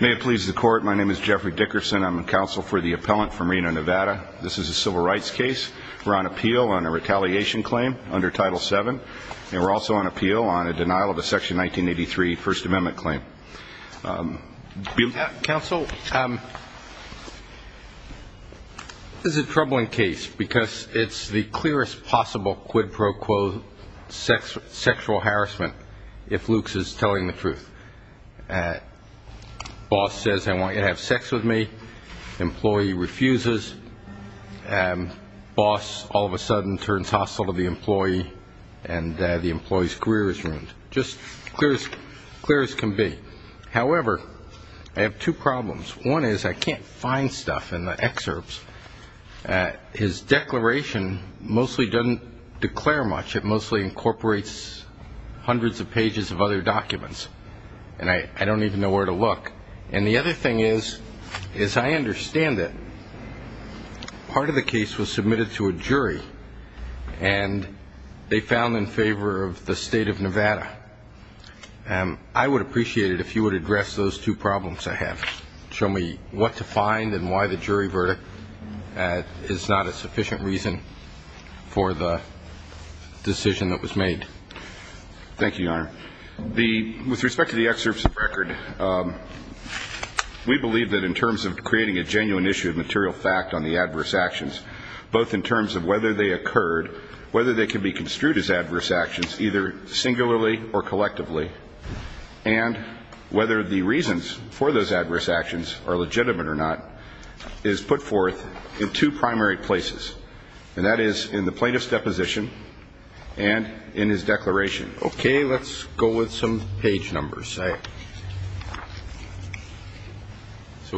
May it please the court. My name is Jeffrey Dickerson. I'm counsel for the appellant from Reno, Nevada. This is a civil rights case. We're on appeal on a retaliation claim under Title VII. And we're also on appeal on a denial of a Section 1983 First Amendment claim. Counsel, this is a troubling case because it's the clearest possible quid pro quo sexual harassment if Lux is telling the truth. Boss says I want you to have sex with me. Employee refuses. Boss all of a sudden turns hostile to the employee and the employee's career is ruined. Just clear as can be. However, I have two problems. One is I can't find stuff in the excerpts. His declaration mostly doesn't declare much. It mostly incorporates hundreds of pages of other documents. And I don't even know where to look. And the other thing is, is I understand that part of the case was submitted to a jury and they found in favor of the state of Nevada. I would appreciate it if you would address those two problems I have. Show me what to find and why the jury verdict is not a sufficient reason for the decision that was made. Thank you, Your Honor. With respect to the excerpts of record, we believe that in terms of creating a genuine issue of material fact on the adverse actions, both in terms of whether they occurred, whether they can be construed as adverse actions, either singularly or collectively, and whether the reasons for those adverse actions are legitimate or not, is put forth in two primary places. And that is in the plaintiff's deposition and in his declaration. Okay, let's go with some page numbers. So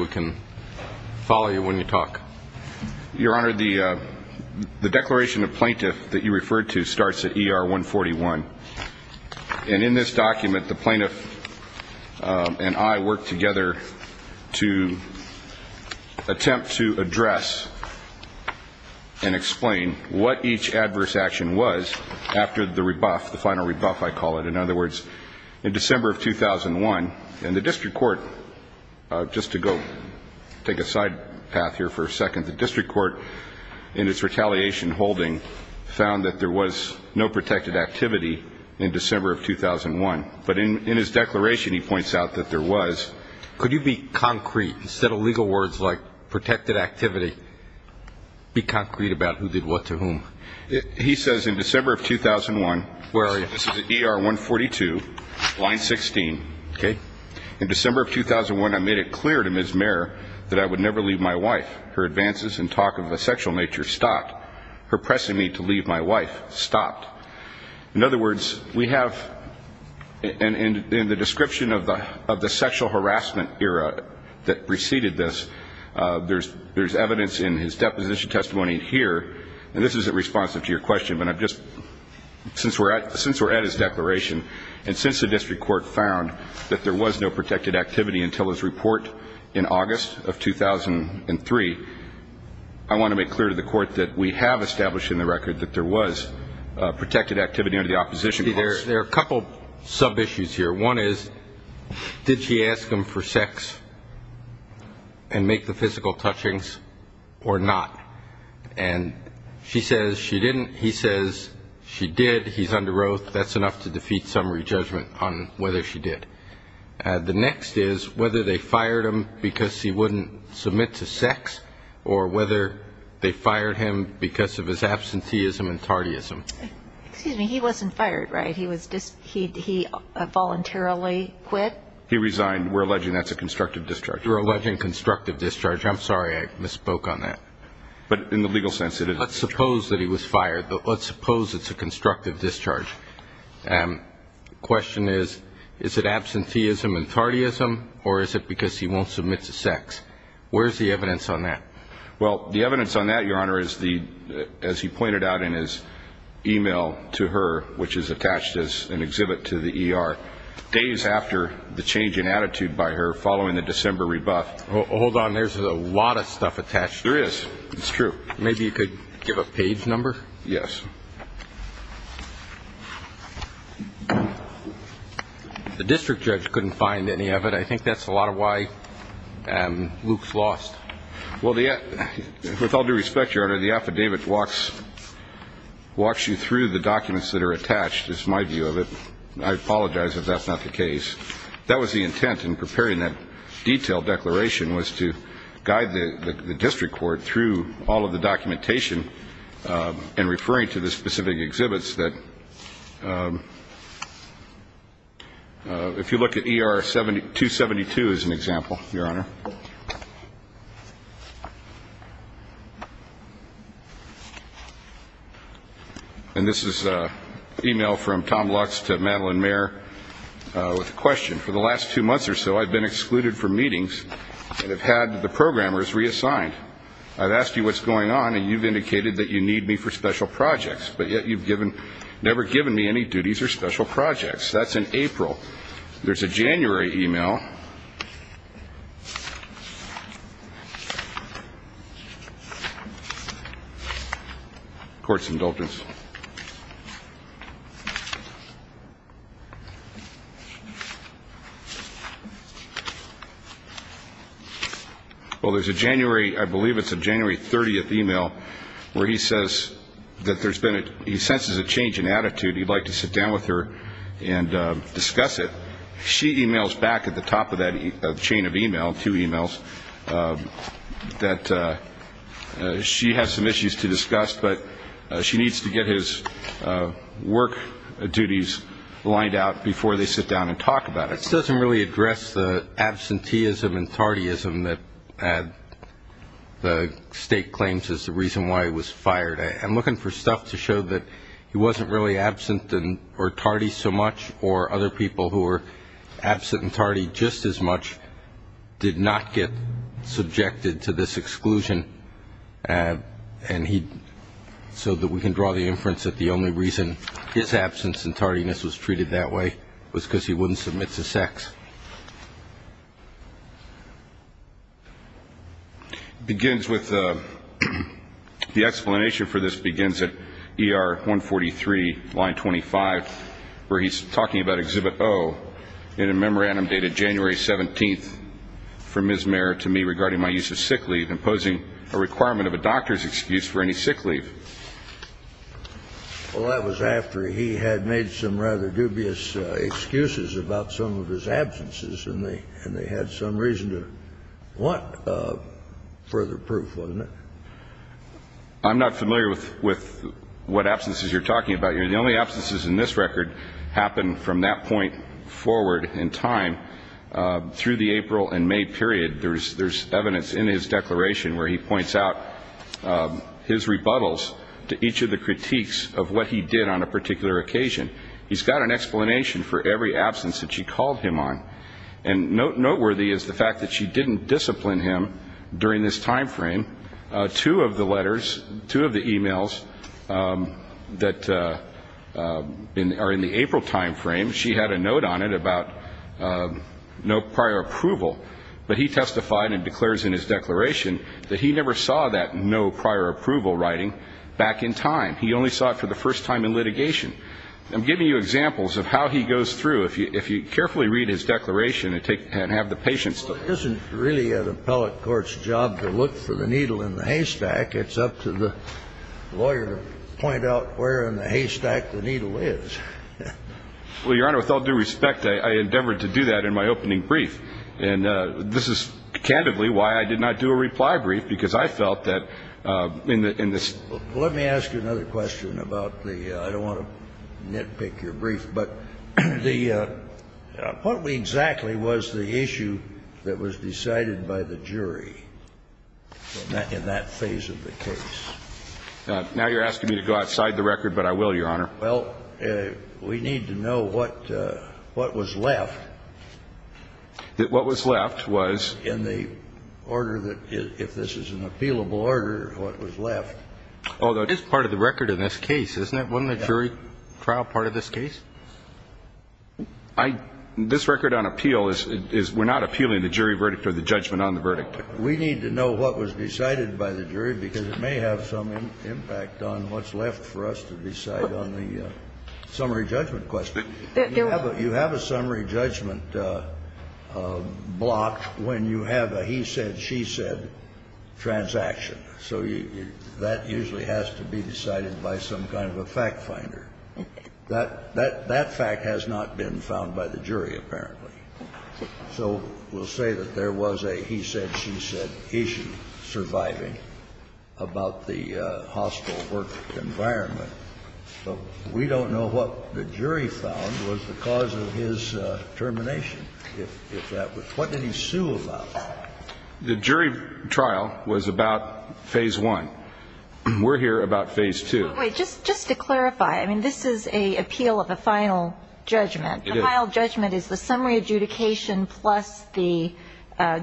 we can follow you when you talk. Your Honor, the declaration of plaintiff that you referred to starts at ER 141. And in this document, the plaintiff and I worked together to attempt to address and explain what each adverse action was after the rebuff, the final rebuff, I call it. In other words, in December of 2001, in the district court, just to go take a side path here for a second, the district court, in its retaliation holding, found that there was no protected activity. In December of 2001. But in his declaration, he points out that there was. Could you be concrete? Instead of legal words like protected activity, be concrete about who did what to whom? He says in December of 2001. Where are you? This is ER 142, line 16. Okay. In December of 2001, I made it clear to Ms. Mayer that I would never leave my wife. Her advances and talk of a sexual nature stopped. Her pressing me to leave my wife stopped. In other words, we have, in the description of the sexual harassment era that preceded this, there's evidence in his deposition testimony here, and this isn't responsive to your question, but I'm just, since we're at his declaration, and since the district court found that there was no protected activity until his report in August of 2003, I want to make clear to the court that we have established in the record that there was protected activity. There are a couple sub-issues here. One is, did she ask him for sex and make the physical touchings or not? And she says she didn't. He says she did. He's under oath. That's enough to defeat summary judgment on whether she did. The next is whether they fired him because he wouldn't submit to sex or whether they fired him because of his absenteeism and tardyism. Excuse me, he wasn't fired, right? He voluntarily quit? He resigned. We're alleging that's a constructive discharge. You're alleging constructive discharge. I'm sorry I misspoke on that. But in the legal sense, it is. Let's suppose that he was fired. Let's suppose it's a constructive discharge. The question is, is it absenteeism and tardyism, or is it because he won't submit to sex? Where's the evidence on that? Well, the evidence on that, Your Honor, is the, as he pointed out in his email to her, which is attached as an exhibit to the ER, days after the change in attitude by her following the December rebuff. Hold on, there's a lot of stuff attached. There is. It's true. Maybe you could give a page number? Yes. The district judge couldn't find any of it. I think that's a lot of why Luke's lost. Well, with all due respect, Your Honor, the affidavit walks you through the documents that are attached, is my view of it. I apologize if that's not the case. That was the intent in preparing that detailed declaration was to guide the district court through all of the documentation and referring to the specific exhibits that, if you look at ER 272 as an example, Your Honor. And this is an email from Tom Lux to Madeline Mayer with a question. For the last two months or so, I've been excluded from meetings and have had the programmers reassigned. I've asked you what's going on, and you've indicated that you need me for special projects, but yet you've never given me any duties or special projects. That's in April. There's a January email. Court's indulgence. Well, there's a January, I believe it's a January 30th email, where he says that there's been a, he senses a change in attitude. He'd like to sit down with her and discuss it. She emails back at the top of that chain of email, two emails, that she has some issues to discuss, but she needs to get his work duties lined out before they sit down and talk about it. This doesn't really address the absenteeism and tardyism that the State claims is the reason why he was fired. I'm looking for stuff to show that he wasn't really absent or tardy so much, or other people who were absent and tardy just as much did not get subjected to this exclusion, so that we can draw the inference that the only reason his absence and tardiness was treated that way was because he wouldn't submit to sex. Begins with, the explanation for this begins at ER 143, line 25, where he's talking about Exhibit O in a memorandum dated January 17th from Ms. Mayer to me regarding my use of sick leave and posing a requirement of a doctor's excuse for any sick leave. Well, that was after he had made some rather dubious excuses about some of his absences, and they had some reason to want further proof, wasn't it? I'm not familiar with what absences you're talking about here. The only absences in this record happen from that point forward in time through the April and May period. There's evidence in his declaration where he points out his rebuttals to each of the critiques of what he did on a particular occasion. He's got an explanation for every absence that she called him on, and noteworthy is the fact that she didn't discipline him during this time frame. Two of the letters, two of the e-mails that are in the April time frame, she had a note on it about no prior approval, but he testified and declares in his declaration that he never saw that no prior approval writing back in time. He only saw it for the first time in litigation. I'm giving you examples of how he goes through. If you carefully read his declaration and have the patience to look. Well, it isn't really an appellate court's job to look for the needle in the haystack. It's up to the lawyer to point out where in the haystack the needle is. Well, Your Honor, with all due respect, I endeavored to do that in my opening brief, and this is candidly why I did not do a reply brief, because I felt that in this ---- Let me ask you another question about the ---- I don't want to nitpick your brief, but the ---- what exactly was the issue that was decided by the jury in that phase of the case? Now you're asking me to go outside the record, but I will, Your Honor. Well, we need to know what was left. What was left was? In the order that ---- if this is an appealable order, what was left. Although it is part of the record in this case, isn't it? Wasn't the jury trial part of this case? I ---- this record on appeal is we're not appealing the jury verdict or the judgment on the verdict. We need to know what was decided by the jury because it may have some impact on what's left for us to decide on the summary judgment question. You have a summary judgment block when you have a he said, she said transaction. So that usually has to be decided by some kind of a fact finder. That fact has not been found by the jury, apparently. So we'll say that there was a he said, she said issue surviving about the hospital work environment. But we don't know what the jury found was the cause of his termination, if that was. What did he sue about? The jury trial was about phase one. We're here about phase two. Wait. Just to clarify, I mean, this is an appeal of a final judgment. It is. The final judgment is the summary adjudication plus the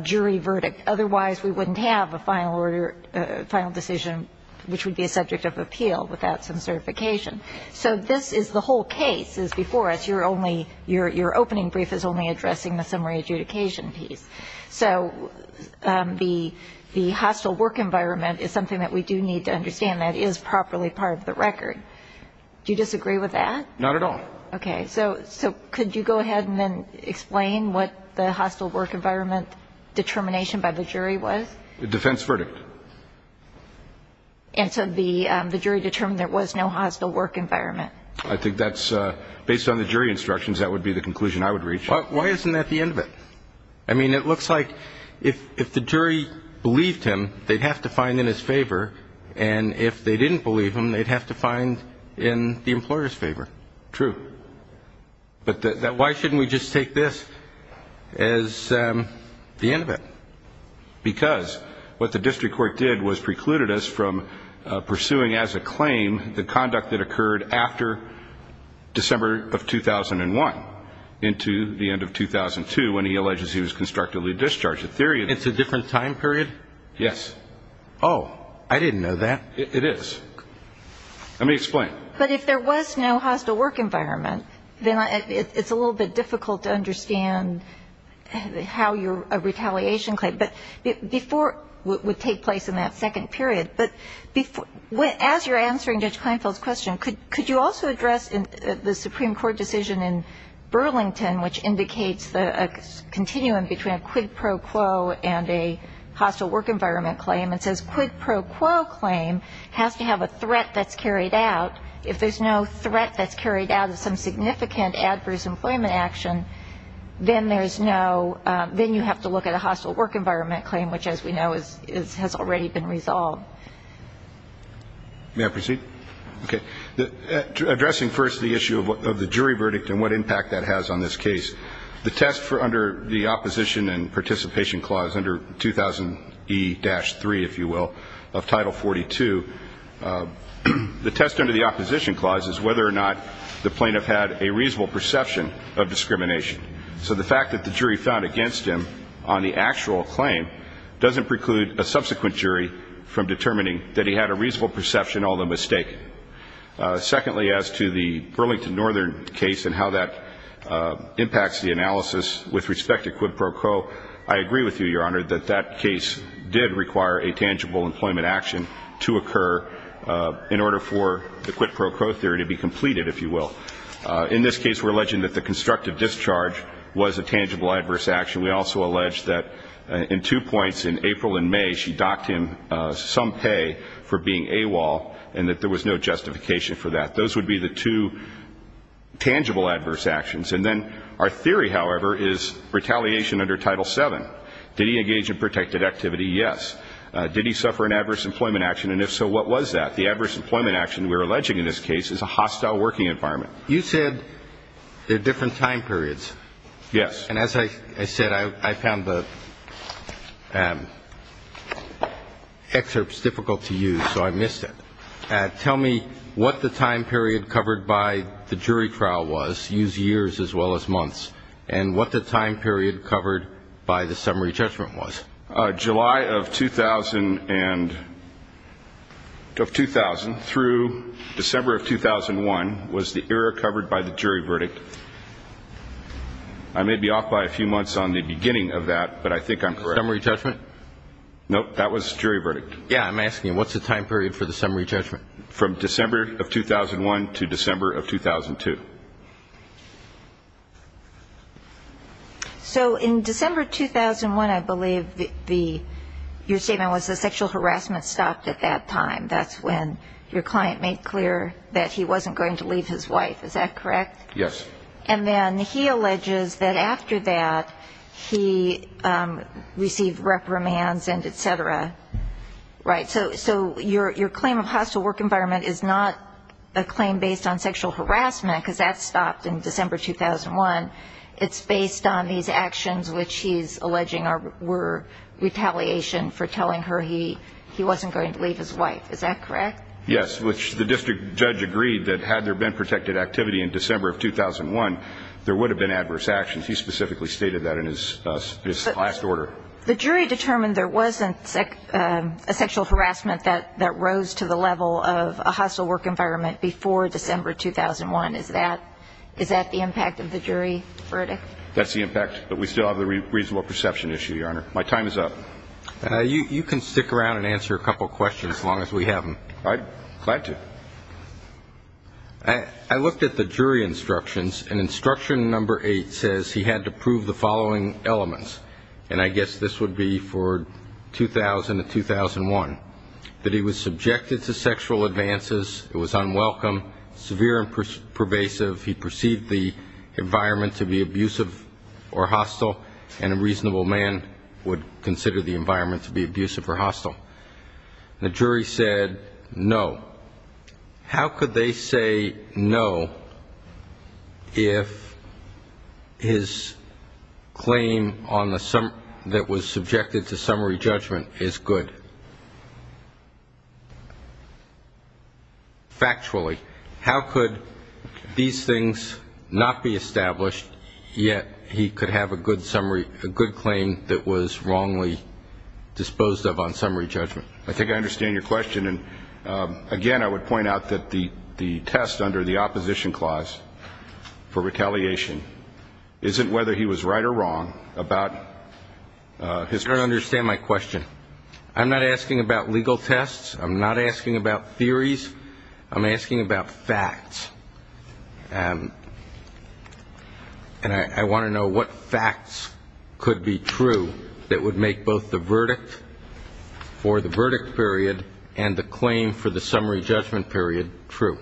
jury verdict. Otherwise, we wouldn't have a final decision, which would be a subject of appeal without some certification. So this is the whole case is before us. Your opening brief is only addressing the summary adjudication piece. So the hospital work environment is something that we do need to understand. That is properly part of the record. Do you disagree with that? Not at all. Okay. So could you go ahead and then explain what the hospital work environment determination by the jury was? The defense verdict. And so the jury determined there was no hospital work environment. I think that's based on the jury instructions. That would be the conclusion I would reach. Why isn't that the end of it? I mean, it looks like if the jury believed him, they'd have to find in his favor. True. But why shouldn't we just take this as the end of it? Because what the district court did was precluded us from pursuing as a claim the conduct that occurred after December of 2001 into the end of 2002 when he alleges he was constructively discharged. It's a different time period? Yes. Oh. I didn't know that. It is. Let me explain. But if there was no hospital work environment, then it's a little bit difficult to understand how your retaliation claim. But before what would take place in that second period, but as you're answering Judge Kleinfeld's question, could you also address the Supreme Court decision in Burlington which indicates the continuum between a quid pro quo and a hospital work environment claim and says quid pro quo claim has to have a threat that's carried out. If there's no threat that's carried out of some significant adverse employment action, then you have to look at a hospital work environment claim, which as we know has already been resolved. May I proceed? Okay. Addressing first the issue of the jury verdict and what impact that has on this case, the test under the opposition and participation clause under 2000E-3, if you will, of Title 42, the test under the opposition clause is whether or not the plaintiff had a reasonable perception of discrimination. So the fact that the jury found against him on the actual claim doesn't preclude a subsequent jury from determining that he had a reasonable perception, although mistaken. Secondly, as to the Burlington Northern case and how that impacts the analysis with respect to quid pro quo, I agree with you, Your Honor, that that case did require a tangible employment action to occur in order for the quid pro quo theory to be completed, if you will. In this case we're alleging that the constructive discharge was a tangible adverse action. We also allege that in two points in April and May she docked him some pay for being AWOL and that there was no justification for that. Those would be the two tangible adverse actions. And then our theory, however, is retaliation under Title VII. Did he engage in protected activity? Yes. Did he suffer an adverse employment action? And if so, what was that? The adverse employment action we're alleging in this case is a hostile working environment. You said there are different time periods. Yes. And as I said, I found the excerpts difficult to use, so I missed it. Tell me what the time period covered by the jury trial was. Use years as well as months. And what the time period covered by the summary judgment was. July of 2000 through December of 2001 was the era covered by the jury verdict. I may be off by a few months on the beginning of that, but I think I'm correct. Summary judgment? No, that was jury verdict. Yes, I'm asking you, what's the time period for the summary judgment? From December of 2001 to December of 2002. So in December 2001, I believe your statement was that sexual harassment stopped at that time. That's when your client made clear that he wasn't going to leave his wife. Is that correct? Yes. And then he alleges that after that, he received reprimands and et cetera. Right. So your claim of hostile work environment is not a claim based on sexual harassment, because that stopped in December 2001. It's based on these actions which he's alleging were retaliation for telling her he wasn't going to leave his wife. Is that correct? Yes, which the district judge agreed that had there been protected activity in December of 2001, there would have been adverse actions. He specifically stated that in his last order. The jury determined there wasn't a sexual harassment that rose to the level of a hostile work environment before December 2001. Is that the impact of the jury verdict? That's the impact, but we still have the reasonable perception issue, Your Honor. My time is up. You can stick around and answer a couple questions as long as we have them. I'm glad to. I looked at the jury instructions, and instruction number eight says he had to prove the following elements, and I guess this would be for 2000 and 2001, that he was subjected to sexual advances, it was unwelcome, severe and pervasive, he perceived the environment to be abusive or hostile, and a reasonable man would consider the environment to be abusive or hostile. The jury said no. How could they say no if his claim that was subjected to summary judgment is good? Factually, how could these things not be established, yet he could have a good claim that was wrongly disposed of on summary judgment? I think I understand your question, and, again, I would point out that the test under the opposition clause for retaliation isn't whether he was right or wrong. I don't understand my question. I'm not asking about legal tests. I'm not asking about theories. I'm asking about facts. And I want to know what facts could be true that would make both the verdict for the verdict period and the claim for the summary judgment period true.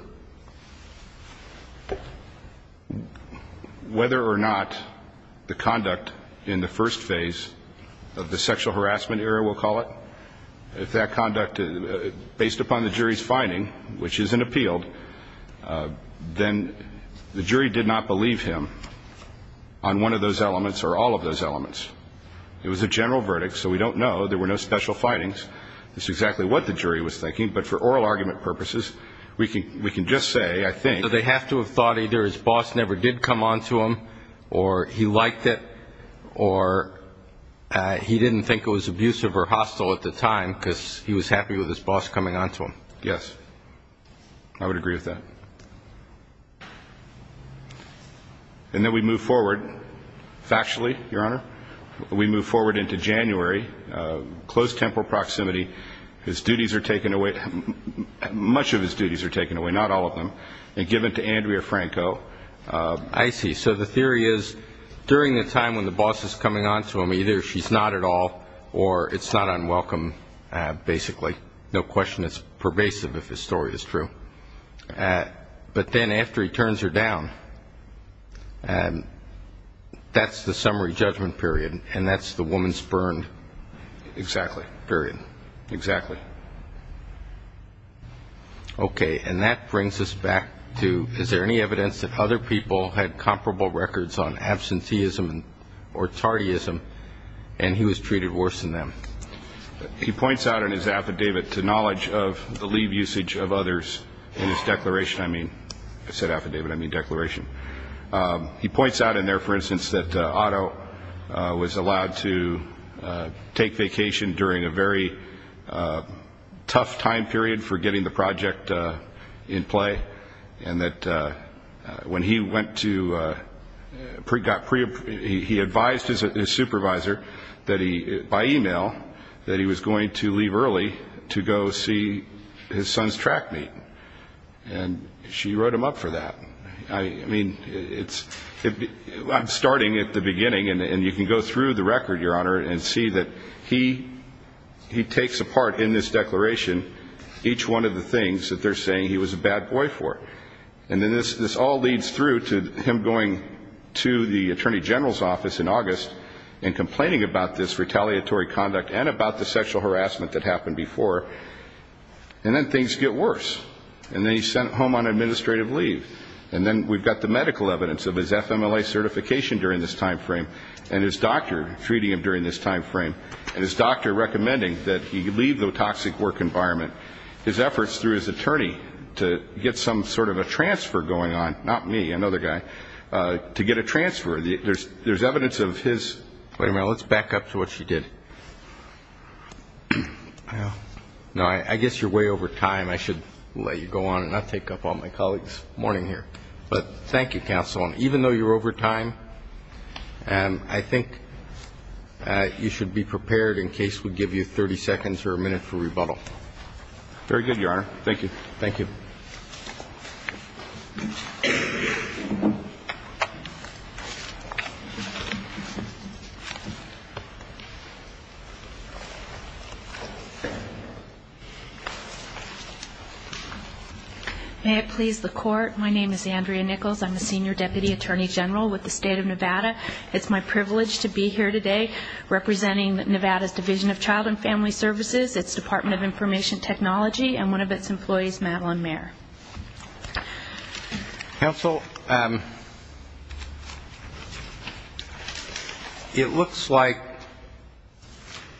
Whether or not the conduct in the first phase of the sexual harassment era, we'll call it, if that conduct, based upon the jury's finding, which isn't appealed, then the jury did not believe him on one of those elements or all of those elements. It was a general verdict, so we don't know. There were no special findings. It's exactly what the jury was thinking. But for oral argument purposes, we can just say, I think, they have to have thought either his boss never did come on to him or he liked it or he didn't think it was abusive or hostile at the time because he was happy with his boss coming on to him. Yes. I would agree with that. And then we move forward factually, Your Honor. We move forward into January, close temporal proximity. His duties are taken away. Much of his duties are taken away, not all of them, and given to Andrea Franco. I see. So the theory is, during the time when the boss is coming on to him, either she's not at all or it's not unwelcome, basically. No question it's pervasive if his story is true. But then after he turns her down, that's the summary judgment period and that's the woman's burned period. Exactly. Okay. And that brings us back to, is there any evidence that other people had comparable records on absenteeism or tardyism and he was treated worse than them? He points out in his affidavit to knowledge of the leave usage of others in his declaration. I mean, I said affidavit, I mean declaration. He points out in there, for instance, that Otto was allowed to take vacation during a very tough time period for getting the project in play and that when he went to, he advised his supervisor by e-mail that he was going to leave early to go see his son's track meet. And she wrote him up for that. I mean, I'm starting at the beginning and you can go through the record, Your Honor, and see that he takes apart in this declaration each one of the things that they're saying he was a bad boy for. And then this all leads through to him going to the Attorney General's office in August and complaining about this retaliatory conduct and about the sexual harassment that happened before. And then things get worse. And then he's sent home on administrative leave. And then we've got the medical evidence of his FMLA certification during this time frame and his doctor treating him during this time frame and his doctor recommending that he leave the toxic work environment. His efforts through his attorney to get some sort of a transfer going on, not me, another guy, to get a transfer. There's evidence of his. Wait a minute, let's back up to what she did. No, I guess you're way over time. I should let you go on and not take up all my colleagues' morning here. But thank you, Counsel. Even though you're over time, I think you should be prepared in case we give you 30 seconds or a minute for rebuttal. Very good, Your Honor. Thank you. Thank you. Thank you. May it please the Court, my name is Andrea Nichols. I'm the Senior Deputy Attorney General with the State of Nevada. It's my privilege to be here today representing Nevada's Division of Child and Family Services, its Department of Information Technology, and one of its employees, Madeline Mayer. Counsel, it looks like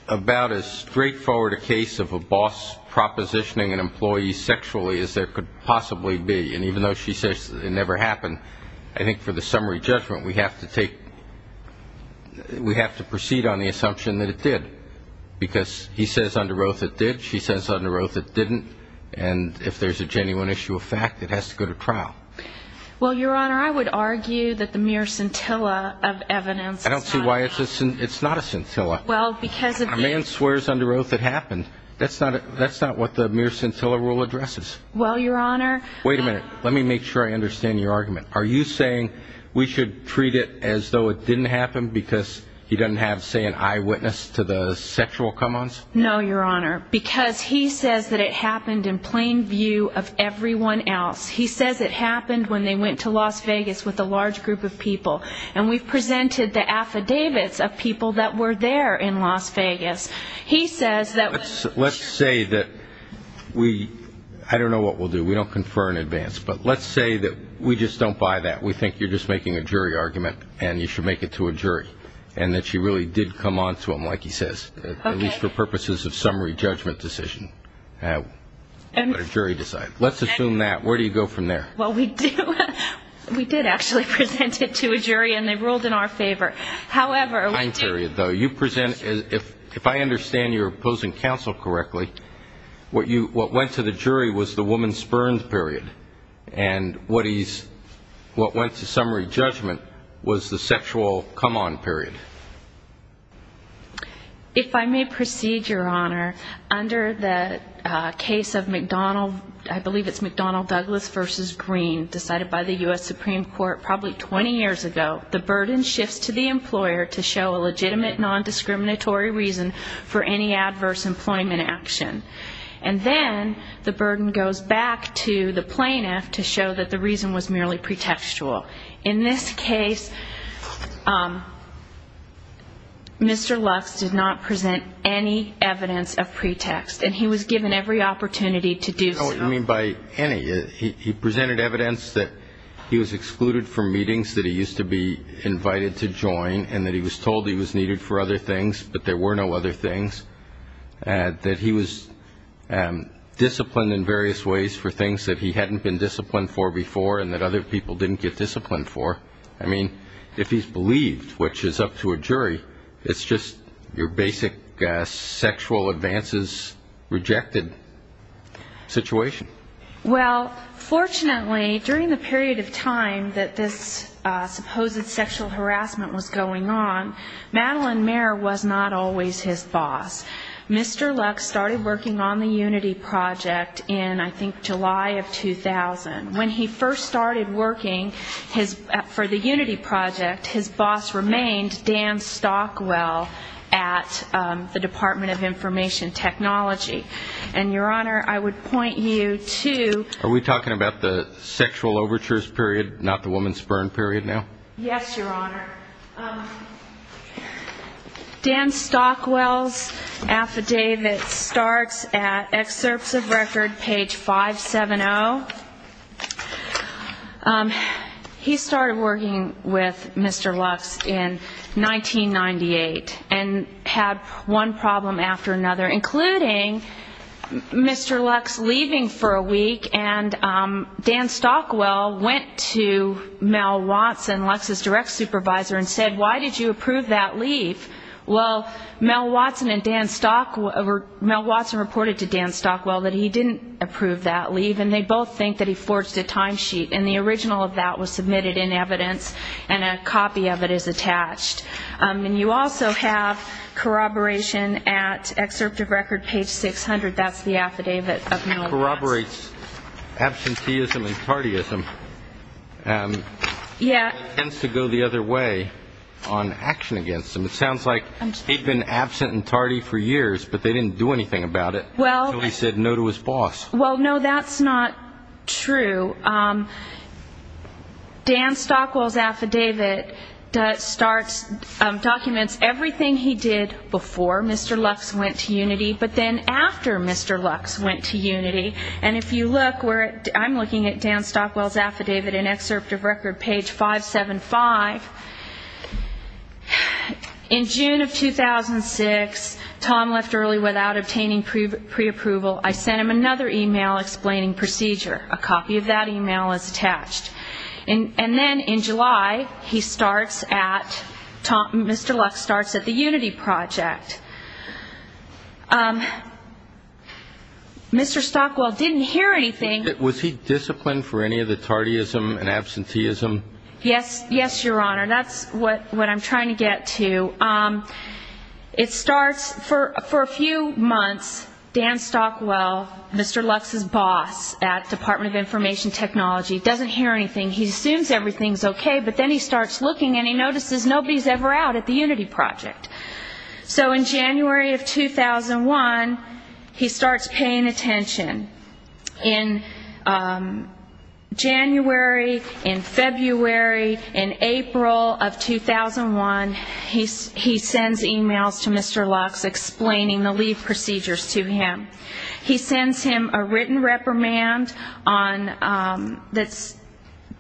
about as straightforward a case of a boss propositioning an employee sexually as there could possibly be. And even though she says it never happened, I think for the summary judgment we have to proceed on the assumption that it did. Because he says under oath it did. She says under oath it didn't. And if there's a genuine issue of fact, it has to go to trial. Well, Your Honor, I would argue that the mere scintilla of evidence. I don't see why it's not a scintilla. A man swears under oath it happened. That's not what the mere scintilla rule addresses. Well, Your Honor. Wait a minute. Let me make sure I understand your argument. Are you saying we should treat it as though it didn't happen because he doesn't have, say, an eyewitness to the sexual come-ons? No, Your Honor, because he says that it happened in plain view of everyone else. He says it happened when they went to Las Vegas with a large group of people. And we've presented the affidavits of people that were there in Las Vegas. He says that was... Let's say that we don't know what we'll do. We don't confer in advance. But let's say that we just don't buy that. We think you're just making a jury argument, and you should make it to a jury, and that you really did come on to him, like he says, at least for purposes of summary judgment decision. Let a jury decide. Let's assume that. Where do you go from there? Well, we did actually present it to a jury, and they ruled in our favor. However, we did... If I understand your opposing counsel correctly, what went to the jury was the woman's spurned period, and what went to summary judgment was the sexual come-on period. If I may proceed, Your Honor, under the case of McDonnell, I believe it's McDonnell-Douglas v. Green, decided by the U.S. Supreme Court probably 20 years ago, the burden shifts to the employer to show a legitimate nondiscriminatory reason for any adverse employment action. And then the burden goes back to the plaintiff to show that the reason was merely pretextual. In this case, Mr. Lux did not present any evidence of pretext, and he was given every opportunity to do so. What do you mean by any? He presented evidence that he was excluded from meetings that he used to be invited to join and that he was told he was needed for other things, but there were no other things, that he was disciplined in various ways for things that he hadn't been disciplined for before and that other people didn't get disciplined for. I mean, if he's believed, which is up to a jury, it's just your basic sexual advances rejected situation. Well, fortunately, during the period of time that this supposed sexual harassment was going on, Madeline Mayer was not always his boss. Mr. Lux started working on the Unity Project in, I think, July of 2000. When he first started working for the Unity Project, his boss remained, Dan Stockwell, at the Department of Information Technology. And, Your Honor, I would point you to... Are we talking about the sexual overtures period, not the woman's burn period now? Yes, Your Honor. Dan Stockwell's affidavit starts at Excerpts of Record, page 570. He started working with Mr. Lux in 1998 and had one problem after another, including Mr. Lux leaving for a week, and Dan Stockwell went to Mel Watson, Lux's direct supervisor, and said, why did you approve that leave? Well, Mel Watson and Dan Stockwell... Mel Watson reported to Dan Stockwell that he didn't approve that leave, and they both think that he forged a timesheet, and the original of that was submitted in evidence, and a copy of it is attached. And you also have corroboration at Excerpts of Record, page 600. That's the affidavit of Mel Watson. It corroborates absenteeism and tardyism. It tends to go the other way on action against them. It sounds like he'd been absent and tardy for years, but they didn't do anything about it, until he said no to his boss. Well, no, that's not true. Dan Stockwell's affidavit documents everything he did before Mr. Lux went to Unity, but then after Mr. Lux went to Unity. And if you look, I'm looking at Dan Stockwell's affidavit in Excerpts of Record, page 575. In June of 2006, Tom left early without obtaining preapproval. I sent him another e-mail explaining procedure. A copy of that e-mail is attached. And then in July, he starts at Tom, Mr. Lux starts at the Unity Project. Mr. Stockwell didn't hear anything. Was he disciplined for any of the tardyism and absenteeism? Yes, Your Honor. That's what I'm trying to get to. For a few months, Dan Stockwell, Mr. Lux's boss at Department of Information Technology, doesn't hear anything. He assumes everything's okay, but then he starts looking, and he notices nobody's ever out at the Unity Project. So in January of 2001, he starts paying attention. In January, in February, in April of 2001, he sends e-mails to Mr. Lux explaining the leave procedures to him. He sends him a written reprimand that's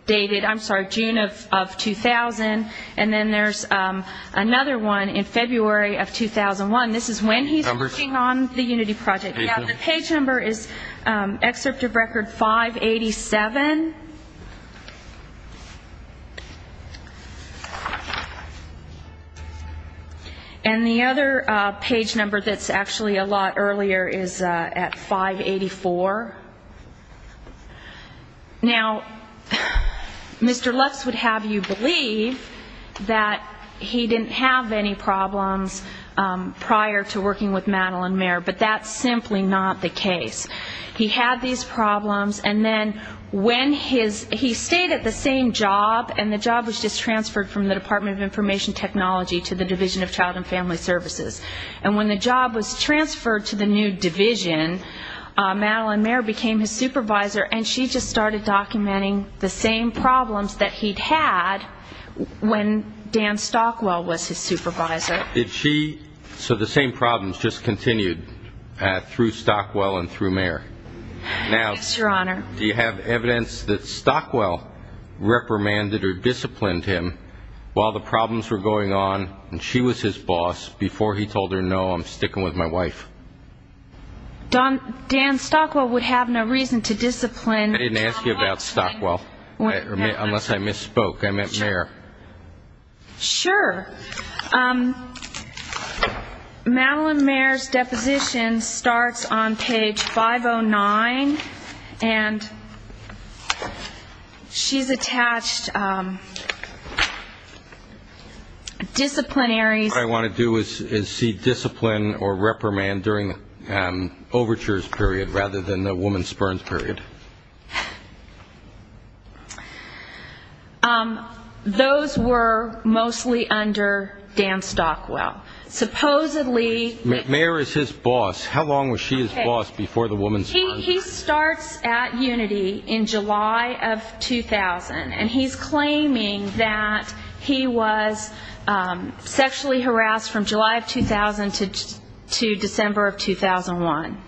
dated June of 2000, and then there's another one in February of 2001. This is when he's working on the Unity Project. The page number is Excerpt of Record 587, and the other page number that's actually a lot earlier is at 584. Now, Mr. Lux would have you believe that he didn't have any problems prior to working with Madeline Mayer, but that's simply not the case. He had these problems, and then he stayed at the same job, and the job was just transferred from the Department of Information Technology to the Division of Child and Family Services. And when the job was transferred to the new division, Madeline Mayer became his supervisor, and she just started documenting the same problems that he'd had when Dan Stockwell was his supervisor. So the same problems just continued through Stockwell and through Mayer. Yes, Your Honor. Now, do you have evidence that Stockwell reprimanded or disciplined him while the problems were going on and she was his boss before he told her, no, I'm sticking with my wife? Dan Stockwell would have no reason to discipline. I didn't ask you about Stockwell, unless I misspoke. I meant Mayer. Sure. Madeline Mayer's deposition starts on page 509, and she's attached disciplinary. What I want to do is see discipline or reprimand during the overtures period rather than the woman's spurns period. Those were mostly under Dan Stockwell. Supposedly he was his boss. How long was she his boss before the woman's spurns? He starts at Unity in July of 2000, and he's claiming that he was sexually harassed from July of 2000 to December of 2001.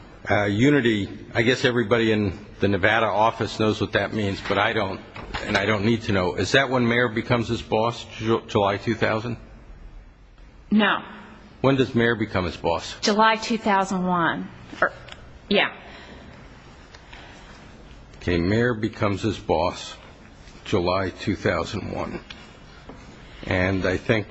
Unity, I guess everybody in the Nevada office knows what that means, but I don't, and I don't need to know. Is that when Mayer becomes his boss, July 2000? No. When does Mayer become his boss? July 2001. Yeah. Okay, Mayer becomes his boss July 2001, and I think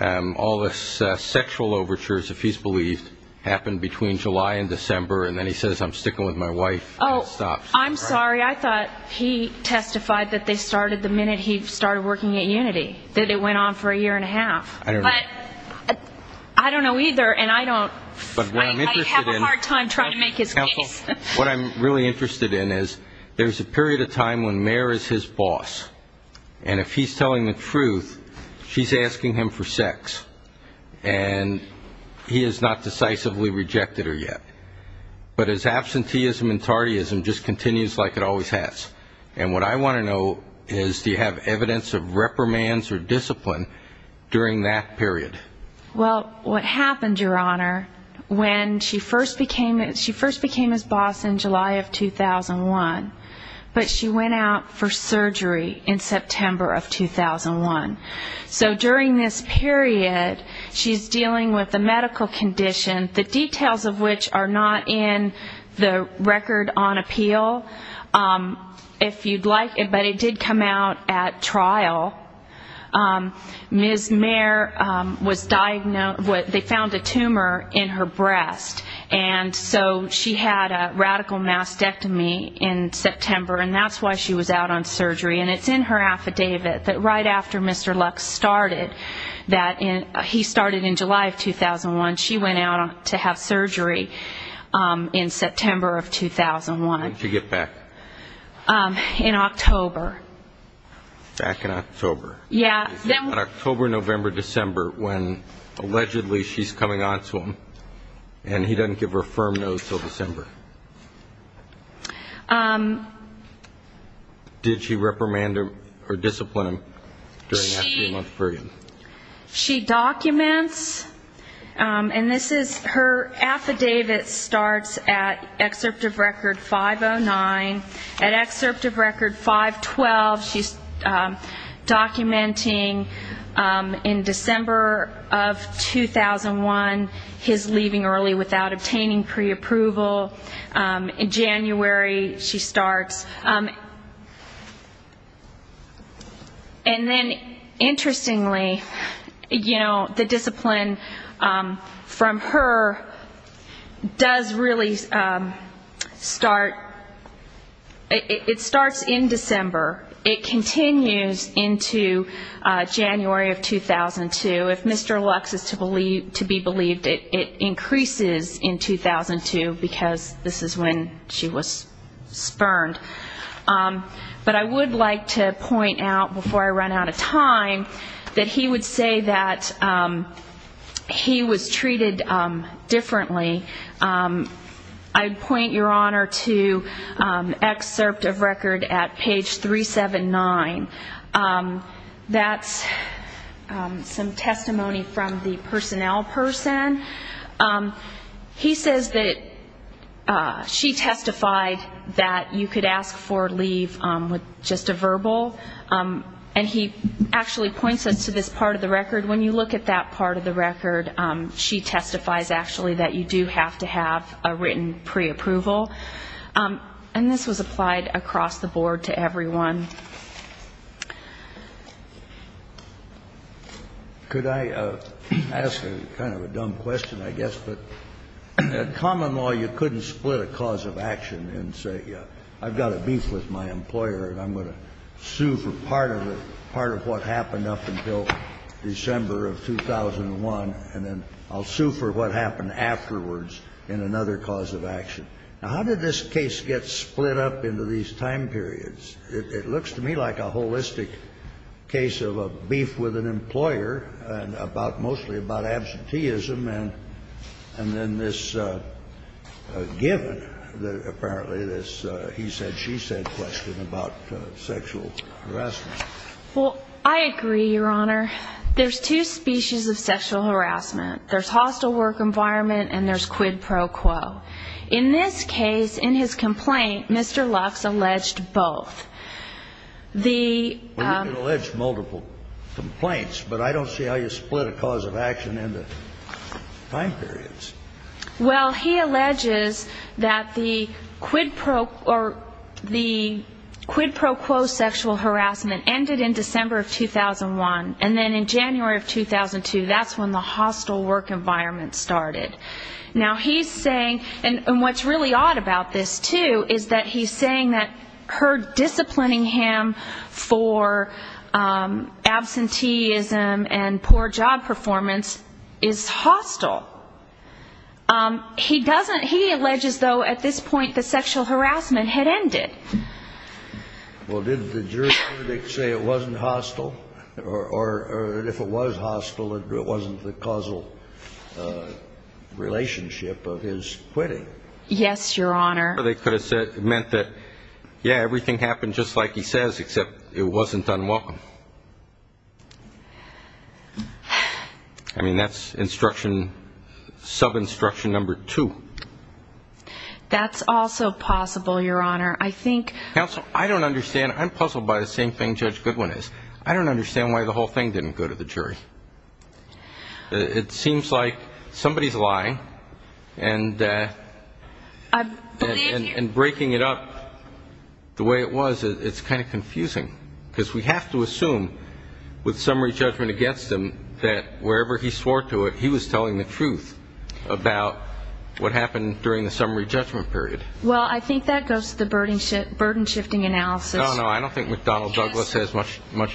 all the sexual overtures, if he's believed, happen between July and December, and then he says, I'm sticking with my wife, and it stops. Oh, I'm sorry. I thought he testified that they started the minute he started working at Unity, that it went on for a year and a half. But I don't know either, and I don't. I have a hard time trying to make his case. What I'm really interested in is there's a period of time when Mayer is his boss, and if he's telling the truth, she's asking him for sex, and he has not decisively rejected her yet. But his absenteeism and tardyism just continues like it always has, and what I want to know is do you have evidence of reprimands or discipline during that period? Well, what happened, Your Honor, when she first became his boss in July of 2001, but she went out for surgery in September of 2001. So during this period, she's dealing with a medical condition, the details of which are not in the record on appeal, if you'd like it, but it did come out at trial. Ms. Mayer was diagnosed with they found a tumor in her breast, and so she had a radical mastectomy in September, and that's why she was out on surgery. And it's in her affidavit that right after Mr. Lux started that he started in July of 2001, she went out to have surgery in September of 2001. When did she get back? In October. Back in October. Yeah. What about October, November, December, when allegedly she's coming on to him and he doesn't give her a firm no until December? Did she reprimand him or discipline him during that three-month period? She documents, and this is her affidavit starts at excerpt of record 509. At excerpt of record 512, she's documenting in December of 2001 his leaving early without obtaining preapproval. In January, she starts. And then interestingly, you know, the discipline from her does really start, it starts in December. It continues into January of 2002. If Mr. Lux is to be believed, it increases in 2002 because this is when she was spurned. But I would like to point out before I run out of time that he would say that he was treated differently. I'd point your honor to excerpt of record at page 379. That's some testimony from the personnel person. He says that she testified that you could ask for leave with just a verbal. And he actually points us to this part of the record. When you look at that part of the record, she testifies actually that you do have to have a written preapproval. And this was applied across the board to everyone. Could I ask a kind of a dumb question, I guess? But in common law, you couldn't split a cause of action and say, yeah, I've got a beef with my employer and I'm going to sue for part of it, part of what happened up until December of 2001, and then I'll sue for what happened afterwards in another cause of action. Now, how did this case get split up into these time periods? It looks to me like a holistic case of a beef with an employer and about mostly about absenteeism and then this given that apparently this he said, she said question about sexual harassment. Well, I agree, Your Honor. There's two species of sexual harassment. There's hostile work environment and there's quid pro quo. In this case, in his complaint, Mr. Lux alleged both. He didn't allege multiple complaints, but I don't see how you split a cause of action into time periods. Well, he alleges that the quid pro quo sexual harassment of 2001, and then in January of 2002, that's when the hostile work environment started. Now, he's saying, and what's really odd about this, too, is that he's saying that her disciplining him for absenteeism and poor job performance is hostile. He doesn't, he alleges, though, at this point the sexual harassment had ended. Well, did the jury say it wasn't hostile or if it was hostile, it wasn't the causal relationship of his quitting? Yes, Your Honor. I mean, that's sub-instruction number two. That's also possible, Your Honor. Counsel, I don't understand. I'm puzzled by the same thing Judge Goodwin is. I don't understand why the whole thing didn't go to the jury. It seems like somebody's lying and breaking it up the way it was, it's kind of confusing. Because we have to assume with summary judgment against him that wherever he swore to it, he was telling the truth about what happened during the summary judgment period. Well, I think that goes to the burden shifting analysis. No, no, I don't think McDonnell Douglas has much to do with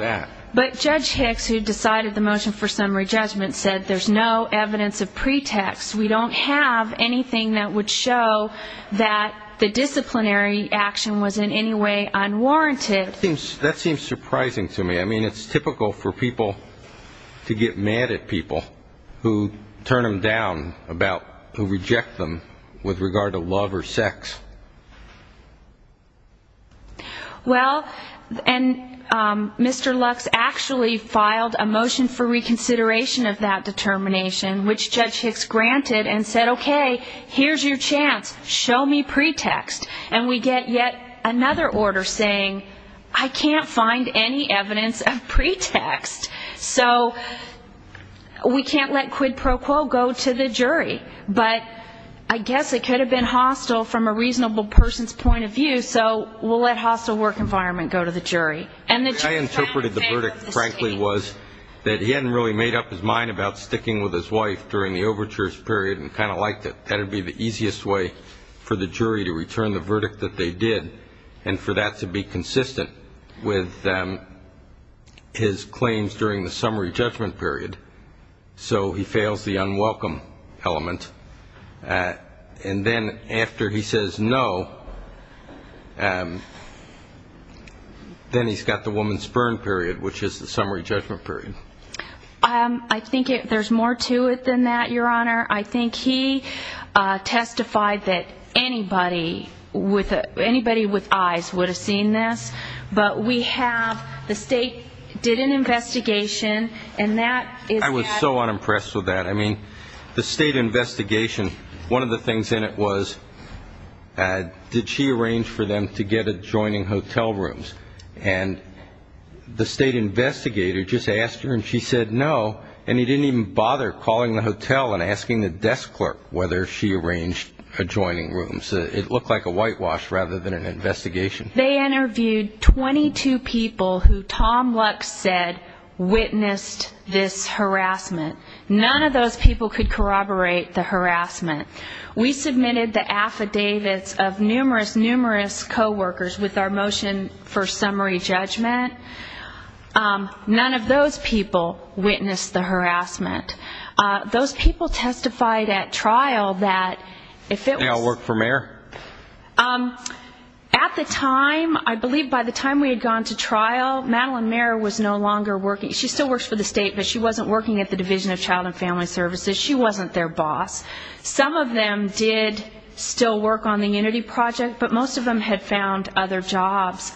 that. But Judge Hicks, who decided the motion for summary judgment, said there's no evidence of pretext. We don't have anything that would show that the disciplinary action was in any way unwarranted. That seems surprising to me. I mean, it's typical for people to get mad at people who turn them down, who reject them with regard to love or sex. Well, and Mr. Lux actually filed a motion for reconsideration of that determination, which Judge Hicks granted. And said, okay, here's your chance, show me pretext. And we get yet another order saying, I can't find any evidence of pretext. So we can't let quid pro quo go to the jury. But I guess it could have been hostile from a reasonable person's point of view, so we'll let hostile work environment go to the jury. What I interpreted the verdict, frankly, was that he hadn't really made up his mind about sticking with his wife during the overtures period and kind of liked it. That would be the easiest way for the jury to return the verdict that they did and for that to be consistent with his claims during the summary judgment period. So he fails the unwelcome element. And then after he says no, then he's got the woman's burn period, which is the summary judgment period. I think there's more to it than that, Your Honor. I think he testified that anybody with eyes would have seen this. But we have the state did an investigation. I was so unimpressed with that. I mean, the state investigation, one of the things in it was, did she arrange for them to get adjoining hotel rooms? And the state investigator just asked her and she said no, and he didn't even bother calling the hotel and asking the desk clerk whether she arranged adjoining rooms. It looked like a whitewash rather than an investigation. They interviewed 22 people who Tom Lux said witnessed this harassment. None of those people could corroborate the harassment. We submitted the affidavits of numerous, numerous coworkers with our motion for summary judgment. Those people testified at trial that if it was... At the time, I believe by the time we had gone to trial, Madeline Mayer was no longer working. She still works for the state, but she wasn't working at the Division of Child and Family Services. She wasn't their boss. Some of them did still work on the Unity Project, but most of them had found other jobs.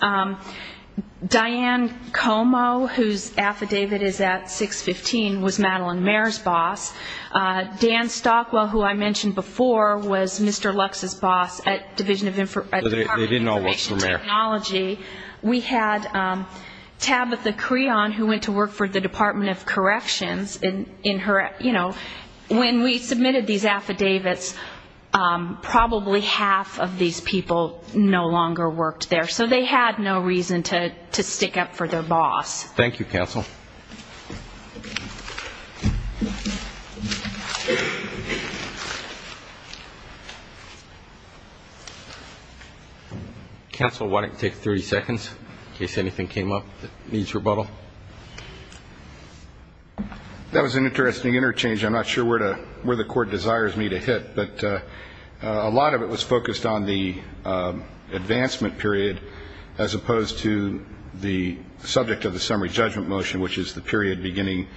Diane Como, whose affidavit is at 615, was Madeline Mayer's boss. Dan Stockwell, who I mentioned before, was Mr. Lux's boss at the Department of Information Technology. We had Tabitha Creon, who went to work for the Department of Corrections. When we submitted these affidavits, probably half of these people no longer worked there, so they had no reason to stick up for their boss. Thank you, counsel. Counsel, why don't you take 30 seconds in case anything came up that needs rebuttal? That was an interesting interchange. I'm not sure where the Court desires me to hit, but a lot of it was focused on the advancement period as opposed to the subject of the summary judgment motion, which is the period beginning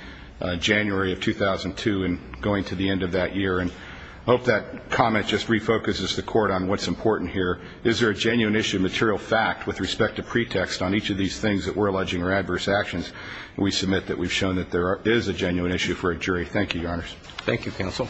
January of 2002 and going to the end of that year. I hope that comment just refocuses the Court on what's important here. Is there a genuine issue of material fact with respect to pretext on each of these things that we're alleging are adverse actions? We submit that we've shown that there is a genuine issue for a jury. Thank you, Your Honors. Thank you, counsel. Thank you, counsel.